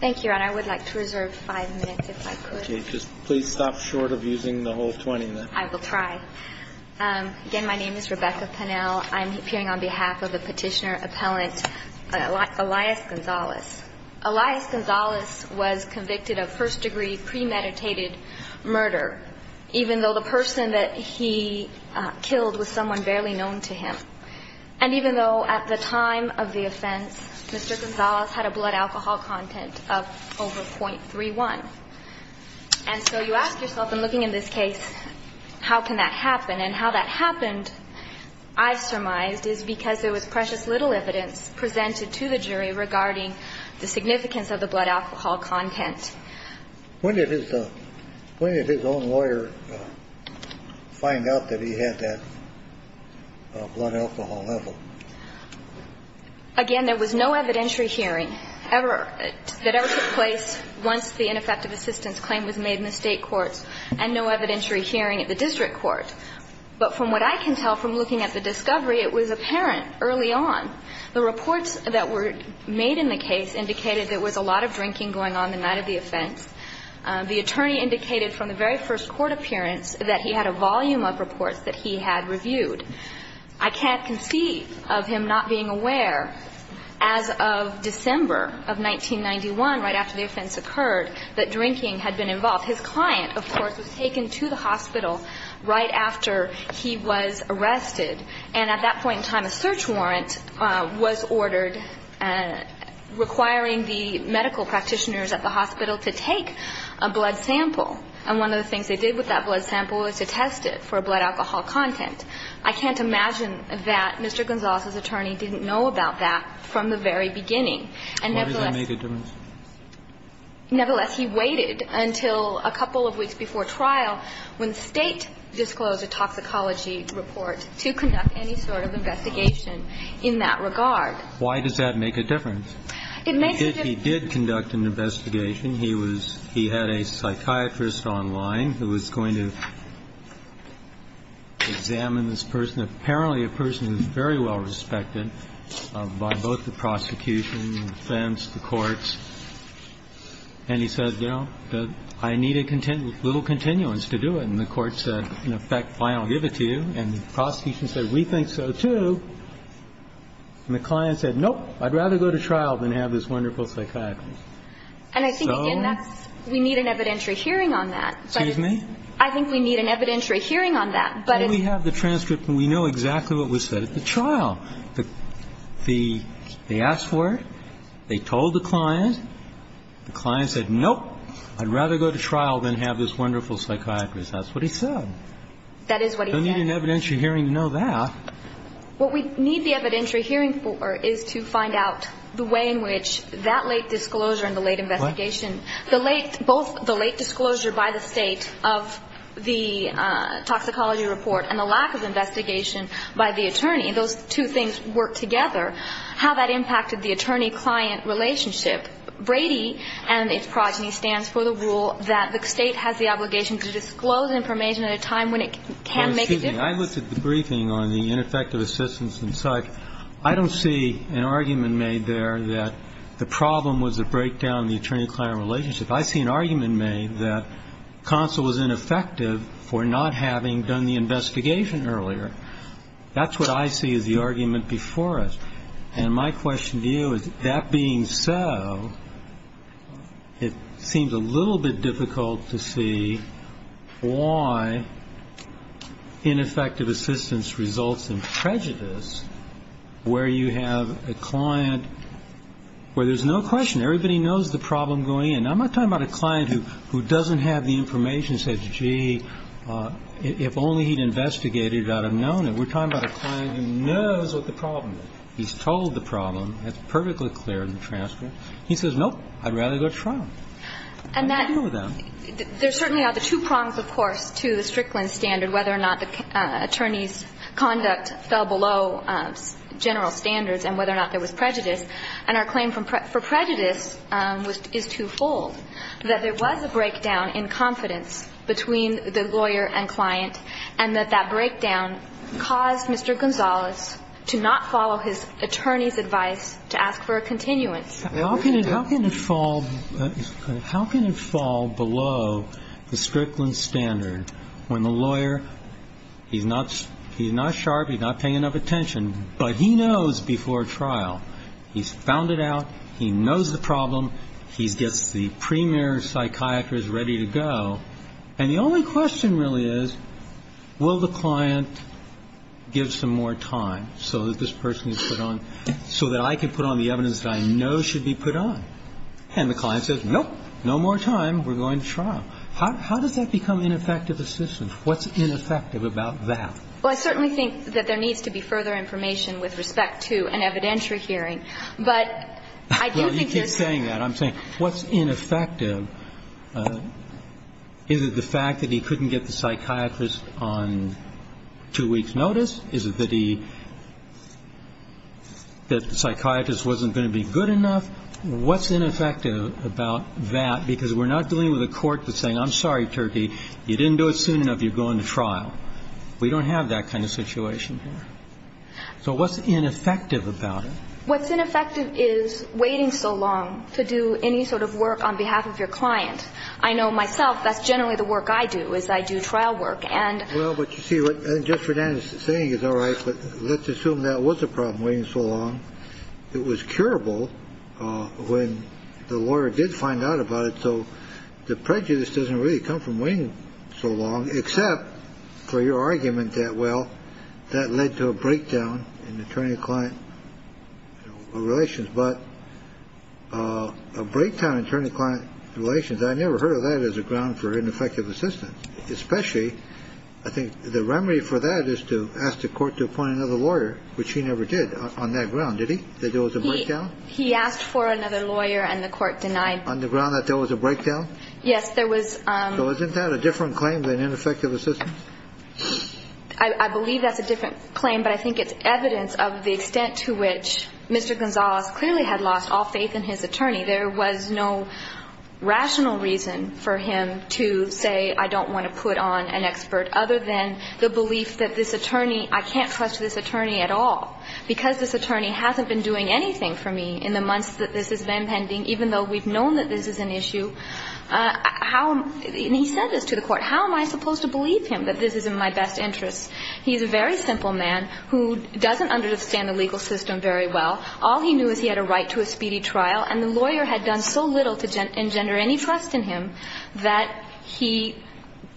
Thank you, and I would like to reserve five minutes if I could. Please stop short of using the whole 20 minutes. I will try. Again, my name is Rebecca Pennell. I'm appearing on behalf of the petitioner appellant Elias Gonzalez. Elias Gonzalez was convicted of first-degree premeditated murder, even though the person that he killed was someone barely known to him. And even though at the time of the offense, Mr. Gonzalez had a blood alcohol content of over 0.31. And so you ask yourself in looking in this case, how can that happen? And how that happened, I surmised, is because there was precious little evidence presented to the jury regarding the significance of the blood alcohol content. When did his own lawyer find out that he had that blood alcohol level? Again, there was no evidentiary hearing that ever took place once the ineffective assistance claim was made in the state courts, and no evidentiary hearing at the district court. But from what I can tell from looking at the discovery, it was apparent early on. The reports that were made in the case indicated there was a lot of drinking going on the night of the offense. The attorney indicated from the very first court appearance that he had a volume of reports that he had reviewed. I can't conceive of him not being aware as of December of 1991, right after the offense occurred, that drinking had been involved. His client, of course, was taken to the hospital right after he was arrested. And at that point in time, a search warrant was ordered requiring the medical practitioners at the hospital to take a blood sample. And one of the things they did with that blood sample was to test it for blood alcohol content. I can't imagine that Mr. Gonzales' attorney didn't know about that from the very beginning. And nevertheless he waited until a couple of weeks before trial when State disclosed a toxicology report to conduct any sort of investigation in that regard. Why does that make a difference? It makes a difference. He did conduct an investigation. He was he had a psychiatrist online who was going to examine this person. Apparently a person who is very well respected by both the prosecution, the defense, the courts. And he said, you know, I need a little continuance to do it. And the court said, in effect, I don't give it to you. And the prosecution said, we think so, too. And the client said, nope, I'd rather go to trial than have this wonderful psychiatrist. So. And I think, again, that's we need an evidentiary hearing on that. Excuse me? I think we need an evidentiary hearing on that. But it's. But we have the transcript and we know exactly what was said at the trial. They asked for it. They told the client. The client said, nope, I'd rather go to trial than have this wonderful psychiatrist. That's what he said. That is what he said. They need an evidentiary hearing to know that. What we need the evidentiary hearing for is to find out the way in which that late disclosure and the late investigation. The late both the late disclosure by the state of the toxicology report and the lack of investigation by the attorney. Those two things work together. How that impacted the attorney client relationship. I think that Brady and its progeny stands for the rule that the state has the obligation to disclose information at a time when it can make a difference. I looked at the briefing on the ineffective assistance and such. I don't see an argument made there that the problem was a breakdown in the attorney client relationship. I see an argument made that counsel was ineffective for not having done the investigation earlier. That's what I see as the argument before us. And my question to you is, that being so, it seems a little bit difficult to see why ineffective assistance results in prejudice, where you have a client where there's no question. Everybody knows the problem going in. I'm not talking about a client who doesn't have the information and says, gee, if only he'd investigated it, I'd have known it. We're talking about a client who knows what the problem is. He's told the problem. It's perfectly clear in the transcript. He says, nope, I'd rather go to trial. How do you deal with that? There certainly are the two prongs, of course, to the Strickland standard, whether or not the attorney's conduct fell below general standards and whether or not there was prejudice. And our claim for prejudice is twofold, that there was a breakdown in confidence between the lawyer and client and that that breakdown caused Mr. Gonzalez to not follow his attorney's advice to ask for a continuance. How can it fall below the Strickland standard when the lawyer, he's not sharp, he's not paying enough attention, but he knows before trial. He's found it out. He knows the problem. He gets the premier psychiatrist ready to go. And the only question really is, will the client give some more time so that this person is put on, so that I can put on the evidence that I know should be put on? And the client says, nope, no more time. We're going to trial. How does that become ineffective assistance? What's ineffective about that? Well, I certainly think that there needs to be further information with respect to an evidentiary hearing. But I do think there's... Well, you keep saying that. But I'm saying, what's ineffective? Is it the fact that he couldn't get the psychiatrist on two weeks' notice? Is it that he, that the psychiatrist wasn't going to be good enough? What's ineffective about that? Because we're not dealing with a court that's saying, I'm sorry, Turkey, you didn't do it soon enough, you're going to trial. We don't have that kind of situation here. So what's ineffective about it? What's ineffective is waiting so long to do any sort of work on behalf of your client. I know myself, that's generally the work I do, is I do trial work. And... Well, but you see what Judge Fernandez is saying is all right. But let's assume that was a problem waiting so long. It was curable when the lawyer did find out about it. So the prejudice doesn't really come from waiting so long, except for your argument that, well, that led to a breakdown in attorney-client relations. But a breakdown in attorney-client relations, I never heard of that as a ground for ineffective assistance. Especially, I think, the remedy for that is to ask the court to appoint another lawyer, which he never did on that ground, did he? That there was a breakdown? He asked for another lawyer and the court denied. On the ground that there was a breakdown? Yes, there was. So isn't that a different claim than ineffective assistance? I believe that's a different claim, but I think it's evidence of the extent to which Mr. Gonzalez clearly had lost all faith in his attorney. There was no rational reason for him to say, I don't want to put on an expert, other than the belief that this attorney, I can't trust this attorney at all. Because this attorney hasn't been doing anything for me in the months that this has been pending, even though we've known that this is an issue. And he said this to the court. How am I supposed to believe him that this is in my best interest? He's a very simple man who doesn't understand the legal system very well. All he knew is he had a right to a speedy trial, and the lawyer had done so little to engender any trust in him that he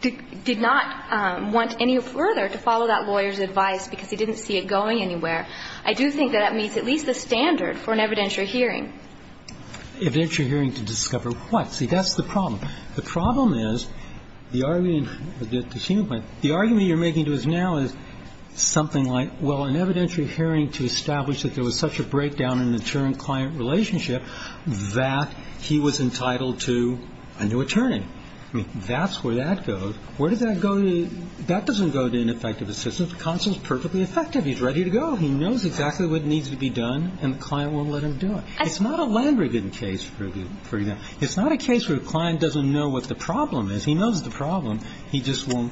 did not want any further to follow that lawyer's advice because he didn't see it going anywhere. I do think that that meets at least the standard for an evidentiary hearing. Evidentiary hearing to discover what? See, that's the problem. The problem is the argument you're making to us now is something like, well, an evidentiary hearing to establish that there was such a breakdown in the current client relationship that he was entitled to a new attorney. I mean, that's where that goes. Where does that go to? That doesn't go to ineffective assistance. The counsel is perfectly effective. He's ready to go. He knows exactly what needs to be done, and the client won't let him do it. It's not a Lambrigan case, for example. It's not a case where the client doesn't know what the problem is. He knows the problem. He just won't.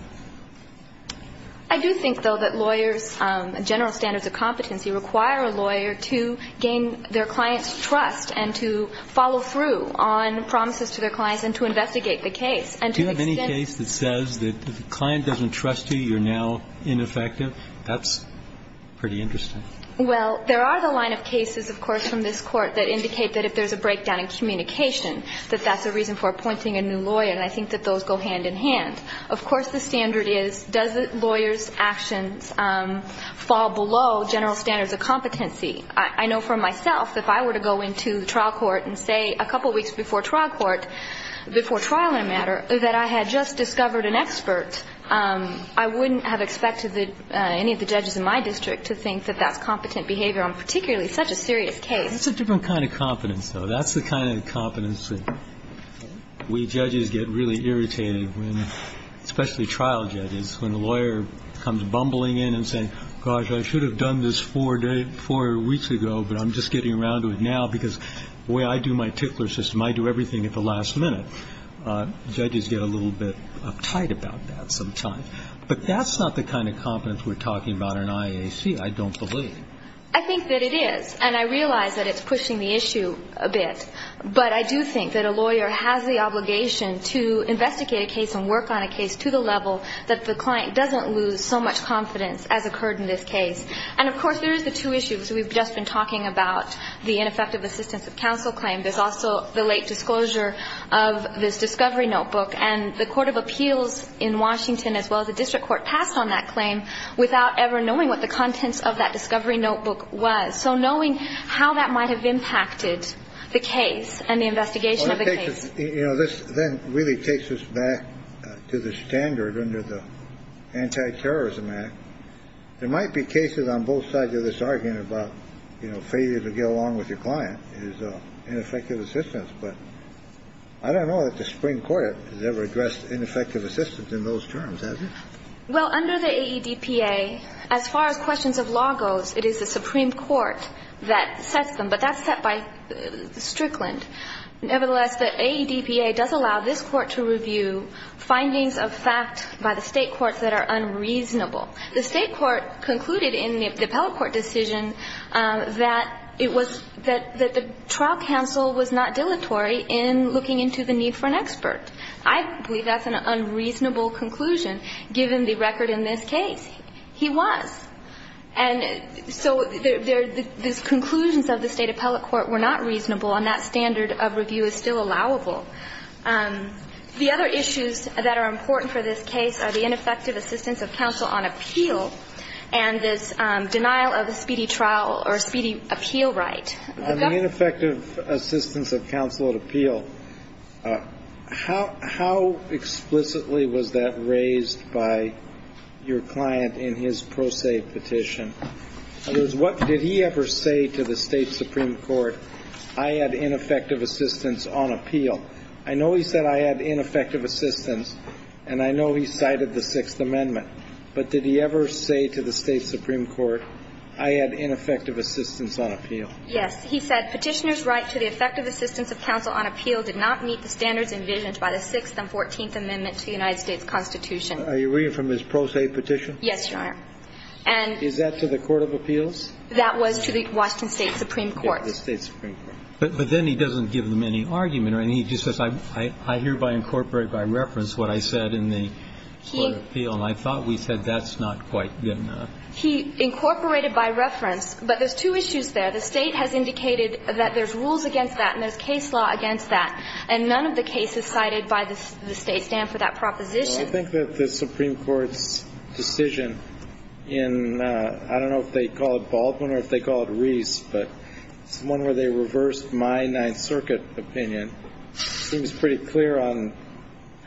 I do think, though, that lawyers' general standards of competency require a lawyer to gain their client's trust and to follow through on promises to their clients and to investigate the case. Do you have any case that says that if the client doesn't trust you, you're now ineffective? That's pretty interesting. Well, there are the line of cases, of course, from this Court that indicate that if there's a breakdown in communication, that that's a reason for appointing a new lawyer, and I think that those go hand in hand. Of course, the standard is, does the lawyer's actions fall below general standards of competency? I know for myself, if I were to go into trial court and say a couple weeks before trial in a matter that I had just discovered an expert, I wouldn't have expected any of the judges in my district to think that that's competent behavior on particularly such a serious case. That's a different kind of competence, though. That's the kind of competence that we judges get really irritated, especially trial judges, when a lawyer comes bumbling in and says, gosh, I should have done this four weeks ago, but I'm just getting around to it now because the way I do my tickler system, I do everything at the last minute. Judges get a little bit uptight about that sometimes. But that's not the kind of competence we're talking about in IAC, I don't believe. I think that it is, and I realize that it's pushing the issue a bit. But I do think that a lawyer has the obligation to investigate a case and work on a case to the level that the client doesn't lose so much confidence as occurred in this case. And, of course, there is the two issues we've just been talking about, the ineffective assistance of counsel claim. There's also the late disclosure of this discovery notebook. And the Court of Appeals in Washington, as well as the district court, passed on that claim without ever knowing what the contents of that discovery notebook was. So knowing how that might have impacted the case and the investigation of the case. You know, this then really takes us back to the standard under the Anti-Terrorism Act. There might be cases on both sides of this argument about failure to get along with your client. And I don't know that the Supreme Court has ever addressed ineffective assistance in those terms, has it? Well, under the AEDPA, as far as questions of law goes, it is the Supreme Court that sets them. But that's set by Strickland. Nevertheless, the AEDPA does allow this Court to review findings of fact by the State courts that are unreasonable. The State court concluded in the appellate court decision that it was that the trial counsel was not dilatory in looking into the need for an expert. I believe that's an unreasonable conclusion, given the record in this case. He was. And so the conclusions of the State appellate court were not reasonable, and that standard of review is still allowable. The other issues that are important for this case are the ineffective assistance of counsel on appeal and this denial of a speedy trial or speedy appeal right. On the ineffective assistance of counsel at appeal, how explicitly was that raised by your client in his pro se petition? In other words, what did he ever say to the State supreme court? I had ineffective assistance on appeal. I know he said I had ineffective assistance, and I know he cited the Sixth Amendment. But did he ever say to the State supreme court, I had ineffective assistance on appeal? Yes. He said, Petitioner's right to the effective assistance of counsel on appeal did not meet the standards envisioned by the Sixth and Fourteenth Amendment to the United States Constitution. Are you reading from his pro se petition? Yes, Your Honor. And. Is that to the court of appeals? That was to the Washington State supreme court. The State supreme court. But then he doesn't give them any argument. He just says, I hereby incorporate by reference what I said in the court of appeal. And I thought we said that's not quite good enough. He incorporated by reference. But there's two issues there. The State has indicated that there's rules against that and there's case law against that. And none of the cases cited by the State stand for that proposition. I think that the Supreme Court's decision in, I don't know if they call it Baldwin or if they call it Reese. But it's one where they reversed my Ninth Circuit opinion. Seems pretty clear on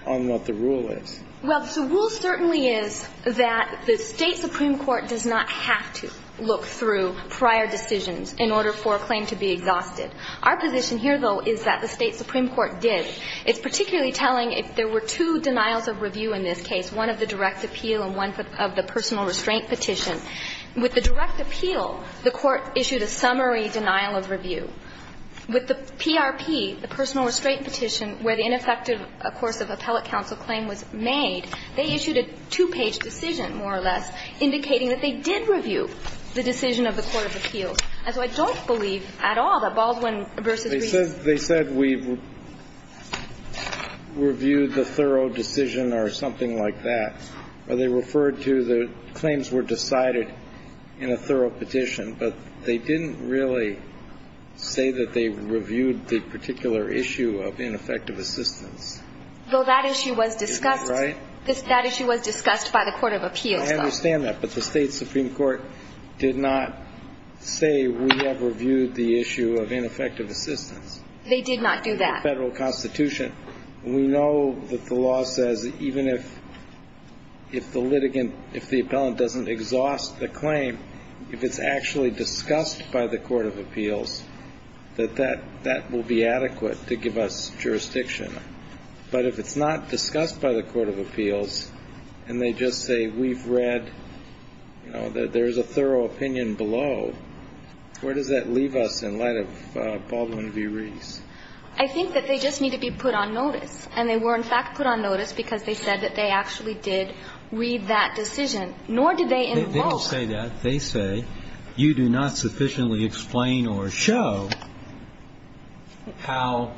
what the rule is. Well, the rule certainly is that the State supreme court does not have to look through prior decisions in order for a claim to be exhausted. Our position here, though, is that the State supreme court did. It's particularly telling if there were two denials of review in this case, one of the direct appeal and one of the personal restraint petition. With the direct appeal, the court issued a summary denial of review. With the PRP, the personal restraint petition, where the ineffective course of appellate counsel claim was made, they issued a two-page decision, more or less, indicating that they did review the decision of the court of appeals. And so I don't believe at all that Baldwin v. Reese. They said we've reviewed the thorough decision or something like that. Or they referred to the claims were decided in a thorough petition. But they didn't really say that they reviewed the particular issue of ineffective assistance. Though that issue was discussed. Right. That issue was discussed by the court of appeals. I understand that. But the State supreme court did not say we have reviewed the issue of ineffective assistance. They did not do that. In the Federal Constitution. We know that the law says even if the litigant, if the appellant doesn't exhaust the claim, if it's actually discussed by the court of appeals, that that will be adequate to give us jurisdiction. But if it's not discussed by the court of appeals and they just say we've read, you know, that there's a thorough opinion below, where does that leave us in light of Baldwin v. Reese? I think that they just need to be put on notice. And they were, in fact, put on notice because they said that they actually did read that decision. Nor did they invoke. They don't say that. They say you do not sufficiently explain or show how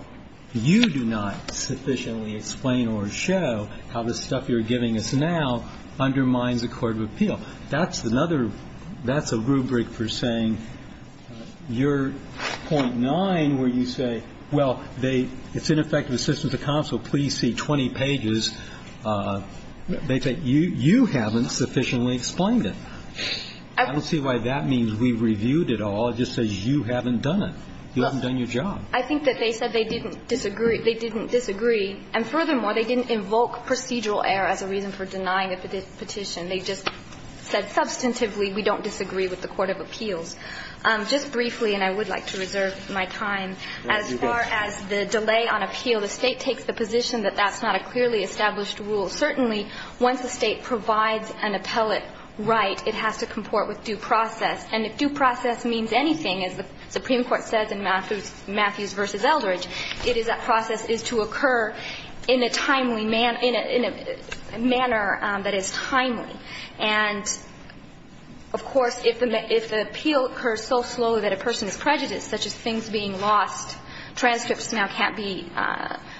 you do not sufficiently explain or show how the stuff you're giving us now undermines the court of appeal. That's another that's a rubric for saying you're .9 where you say, well, they it's ineffective assistance of counsel. Please see 20 pages. They say you haven't sufficiently explained it. I don't see why that means we reviewed it all. It just says you haven't done it. You haven't done your job. I think that they said they didn't disagree. They didn't disagree. And furthermore, they didn't invoke procedural error as a reason for denying the petition. They just said substantively we don't disagree with the court of appeals. Just briefly, and I would like to reserve my time, as far as the delay on appeal, the State takes the position that that's not a clearly established rule. Certainly, once the State provides an appellate right, it has to comport with due process. And if due process means anything, as the Supreme Court says in Matthews v. Eldridge, it is that process is to occur in a timely manner, in a manner that is timely. And, of course, if the appeal occurs so slowly that a person is prejudiced, such as things being lost, transcripts now can't be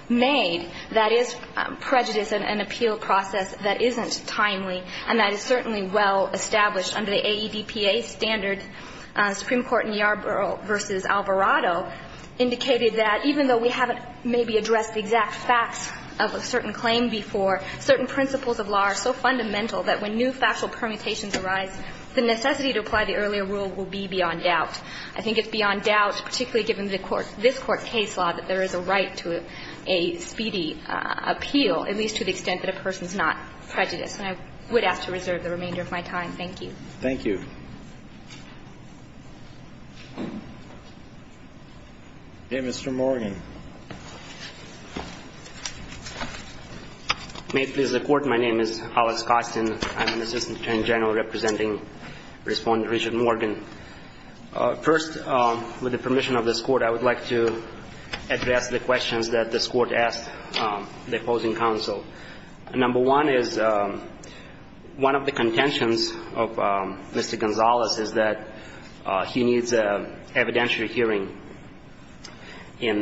made, that is prejudice and an appeal process that isn't timely, and that is certainly well established under the AEDPA standard, Supreme Court in Yarborough v. Alvarado indicated that even though we haven't maybe addressed the exact facts of a certain claim before, certain principles of law are so fundamental that when new factual permutations arise, the necessity to apply the earlier rule will be beyond doubt. I think it's beyond doubt, particularly given the court, this Court's case law, that there is a right to a speedy appeal, at least to the extent that a person is not prejudiced. And I would ask to reserve the remainder of my time. Thank you. Thank you. Okay. Mr. Morgan. May it please the Court, my name is Hollis Costin. I'm an assistant attorney general representing Respondent Richard Morgan. First, with the permission of this Court, I would like to address the questions that this Court asked the opposing counsel. Number one is one of the contentions of Mr. Gonzalez is that he needs an evidentiary hearing in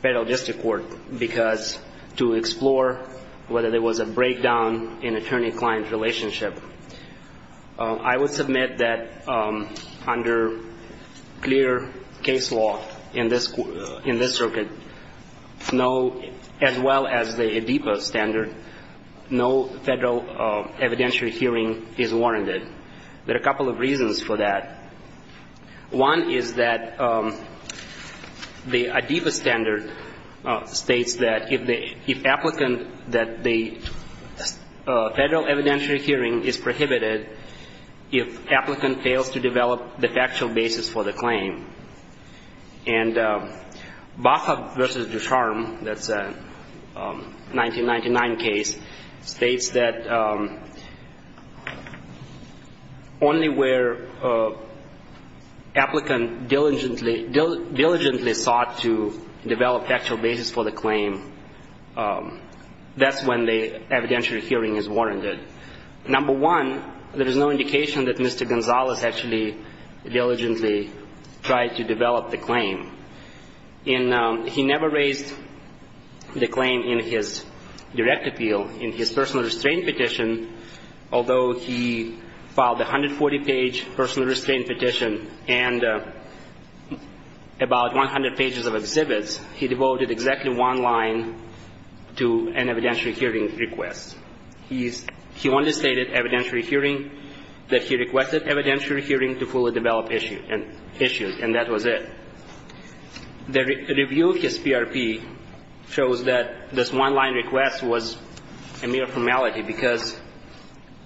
federal district court because to explore whether there was a breakdown in attorney-client relationship, I would submit that under clear case law in this circuit, as well as the ADEPA standard, no federal evidentiary hearing is warranted. There are a couple of reasons for that. One is that the ADEPA standard states that if applicant, that the federal evidentiary hearing is prohibited if applicant fails to develop the factual basis for the claim. And Baca v. Ducharme, that's a 1999 case, states that only where applicant diligently sought to develop factual basis for the claim, that's when the evidentiary hearing is warranted. Number one, there is no indication that Mr. Gonzalez actually diligently tried to develop the claim. He never raised the claim in his direct appeal. In his personal restraint petition, although he filed a 140-page personal restraint petition and about 100 pages of exhibits, he devoted exactly one line to an evidentiary hearing request. He only stated evidentiary hearing, that he requested evidentiary hearing to fully develop issues, and that was it. The review of his PRP shows that this one-line request was a mere formality because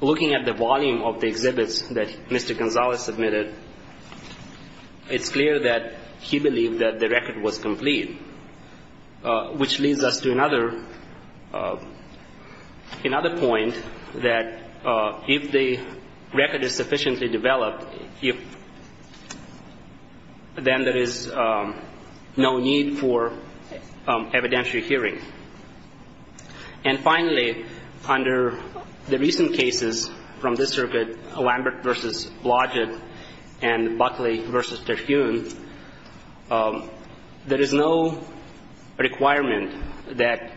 looking at the volume of the exhibits that Mr. Gonzalez submitted, it's clear that he Another point, that if the record is sufficiently developed, then there is no need for evidentiary hearing. And finally, under the recent cases from this circuit, Lambert v. Blodgett and Buckley v. Terhune, there is no requirement that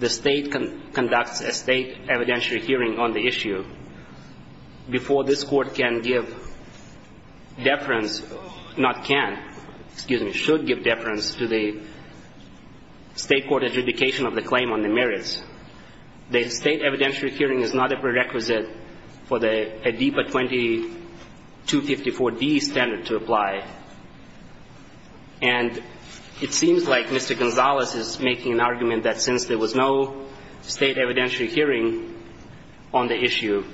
the State conducts a State evidentiary hearing on the issue before this Court can give deference, not can, excuse me, should give deference to the State court adjudication of the claim on the merits. The State evidentiary hearing is not a prerequisite for the ADIPA 2254D standard to apply. And it seems like Mr. Gonzalez is making an argument that since there was no State evidentiary hearing on the issue,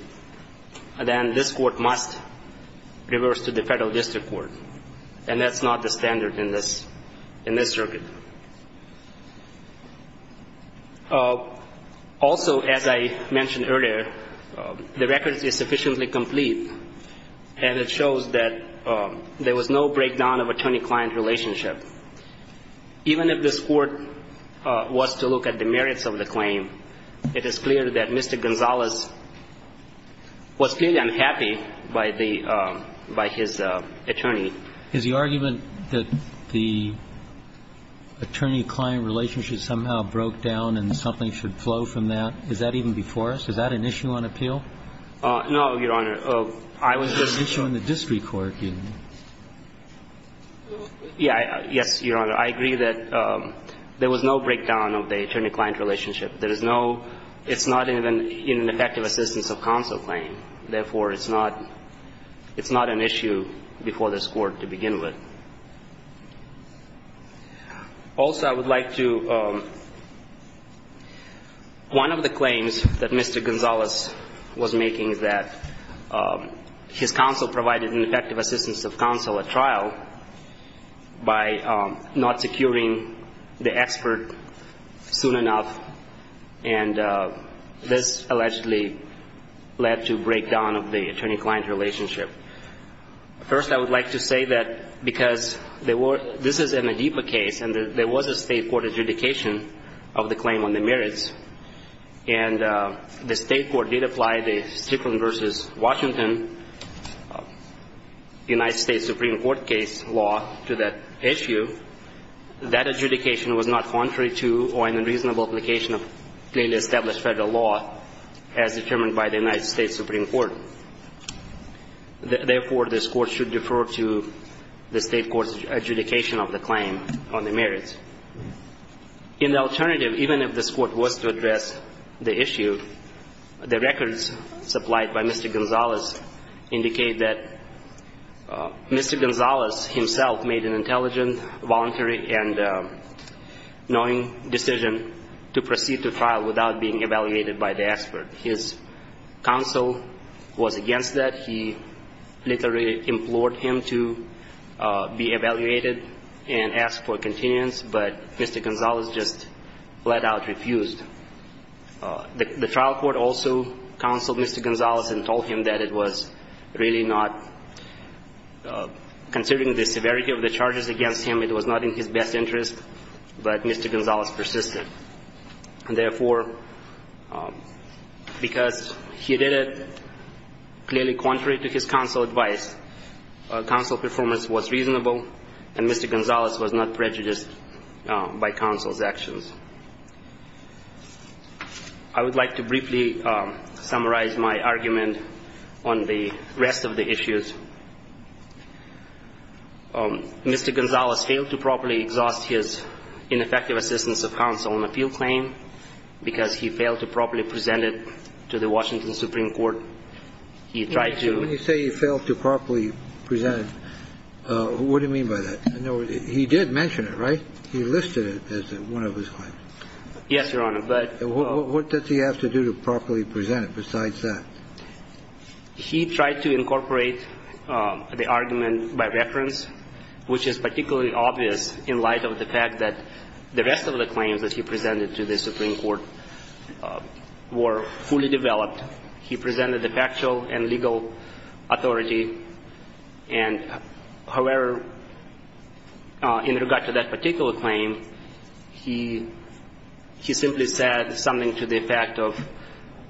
then this Court must reverse to the Federal District Court. And that's not the standard in this circuit. Also, as I mentioned earlier, the record is sufficiently complete, and it shows that there was no breakdown of attorney-client relationship. Even if this Court was to look at the merits of the claim, it is clear that Mr. Gonzalez was clearly unhappy by the by his attorney. Is the argument that the attorney-client relationship somehow broke down and something should flow from that, is that even before us? Is that an issue on appeal? No, Your Honor. I was just issuing the District Court. Yes, Your Honor. I agree that there was no breakdown of the attorney-client relationship. There is no – it's not even in an effective assistance of counsel claim. Therefore, it's not – it's not an issue before this Court to begin with. Also, I would like to – one of the claims that Mr. Gonzalez was making is that his counsel provided an effective assistance of counsel at trial by not securing the expert soon enough. And this allegedly led to breakdown of the attorney-client relationship. First, I would like to say that because there were – this is an Adeepa case, and there was a State court adjudication of the claim on the merits, and the State court did apply the Stickland v. Washington United States Supreme Court case law to that issue. That adjudication was not contrary to or in the reasonable application of clearly established Federal law as determined by the United States Supreme Court. Therefore, this Court should defer to the State court's adjudication of the claim on the merits. In the alternative, even if this Court was to address the issue, the records supplied by Mr. Gonzalez indicate that Mr. Gonzalez himself made an intelligent, voluntary, and knowing decision to proceed to trial without being evaluated by the expert. His counsel was against that. He literally implored him to be evaluated and asked for continuance, but Mr. Gonzalez just let out refused. The trial court also counseled Mr. Gonzalez and told him that it was really not – considering the severity of the charges against him, it was not in his best interest, but Mr. Gonzalez persisted. And therefore, because he did it clearly contrary to his counsel's advice, counsel's performance was reasonable, and Mr. Gonzalez was not prejudiced by counsel's actions. I would like to briefly summarize my argument on the rest of the issues. Mr. Gonzalez failed to properly exhaust his ineffective assistance of counsel on the appeal claim because he failed to properly present it to the Washington Supreme Court. He tried to – When you say he failed to properly present it, what do you mean by that? He did mention it, right? He listed it as one of his claims. Yes, Your Honor, but – What does he have to do to properly present it besides that? He tried to incorporate the argument by reference, which is particularly obvious in light of the fact that the rest of the claims that he presented to the Supreme Court were fully developed. He presented the factual and legal authority. And, however, in regard to that particular claim, he simply said something to the effect of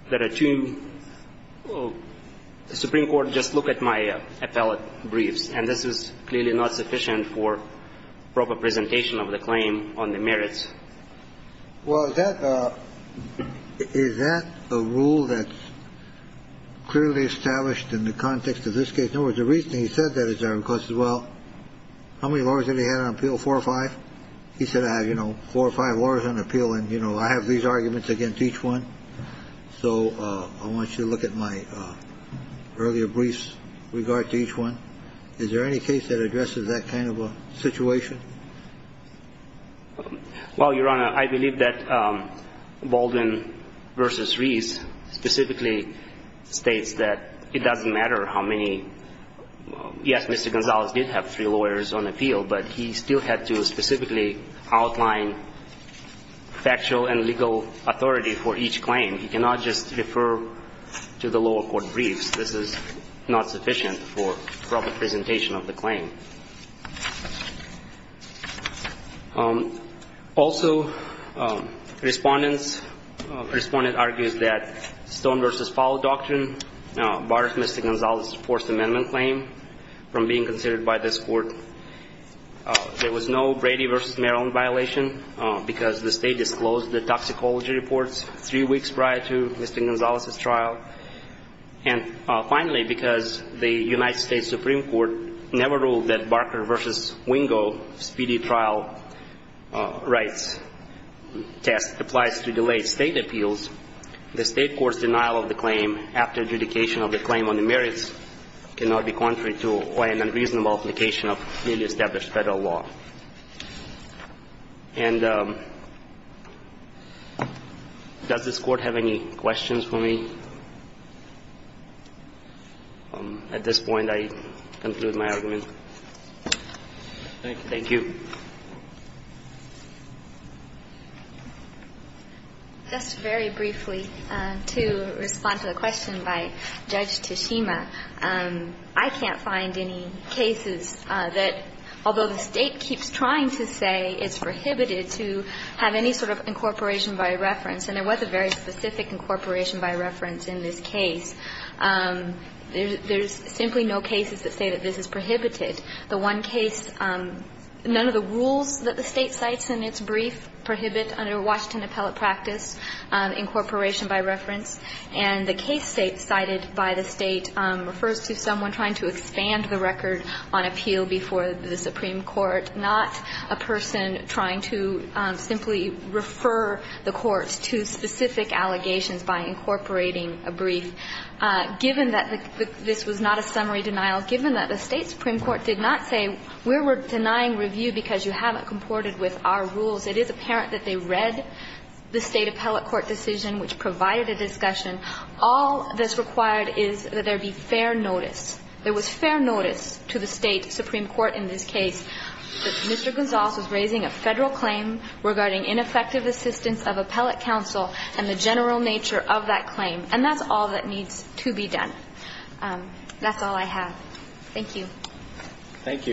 that a two – the Supreme Court just look at my appellate briefs, and this is clearly not sufficient for proper presentation of the claim on the merits. Well, is that – is that a rule that's clearly established in the context of this case? In other words, the reason he said that is because, well, how many lawyers did he have on appeal? Four or five? He said, you know, I have four or five lawyers on appeal, and, you know, I have these arguments against each one. So I want you to look at my earlier briefs in regard to each one. Is there any case that addresses that kind of a situation? Well, Your Honor, I believe that Baldwin v. Reese specifically states that it doesn't matter how many – yes, Mr. Gonzalez did have three lawyers on appeal, but he still had to specifically outline factual and legal authority for each claim. He cannot just refer to the lower court briefs. This is not sufficient for proper presentation of the claim. Also, Respondents – Respondent argues that Stone v. Fowler doctrine bars Mr. Gonzalez's Fourth Amendment claim from being considered by this Court. There was no Brady v. Maryland violation because the State disclosed the toxicology reports three weeks prior to Mr. Gonzalez's trial. And finally, because the United States Supreme Court never ruled that Barker v. Wingo speedy trial rights test applies to delayed State appeals, the State court's denial of the claim after adjudication of the claim on the merits cannot be contrary to quite an unreasonable application of newly established Federal law. And does this Court have any questions for me? At this point, I conclude my argument. Thank you. Thank you. Just very briefly, to respond to the question by Judge Tashima, I can't find any cases that, although the State keeps trying to say it's prohibited to have any sort of incorporation by reference, and there was a very specific incorporation by reference in this case, there's simply no cases that say that this is prohibited. The one case, none of the rules that the State cites in its brief prohibit under Washington appellate practice incorporation by reference. And the case cited by the State refers to someone trying to expand the record on appeal before the Supreme Court, not a person trying to simply refer the courts to specific allegations by incorporating a brief. Given that this was not a summary denial, given that the State Supreme Court did not say we're denying review because you haven't comported with our rules, it is apparent that they read the State appellate court decision which provided a discussion. All that's required is that there be fair notice. There was fair notice to the State Supreme Court in this case that Mr. Gonzales was raising a Federal claim regarding ineffective assistance of appellate counsel and the general nature of that claim. And that's all that needs to be done. That's all I have. Thank you. Thank you.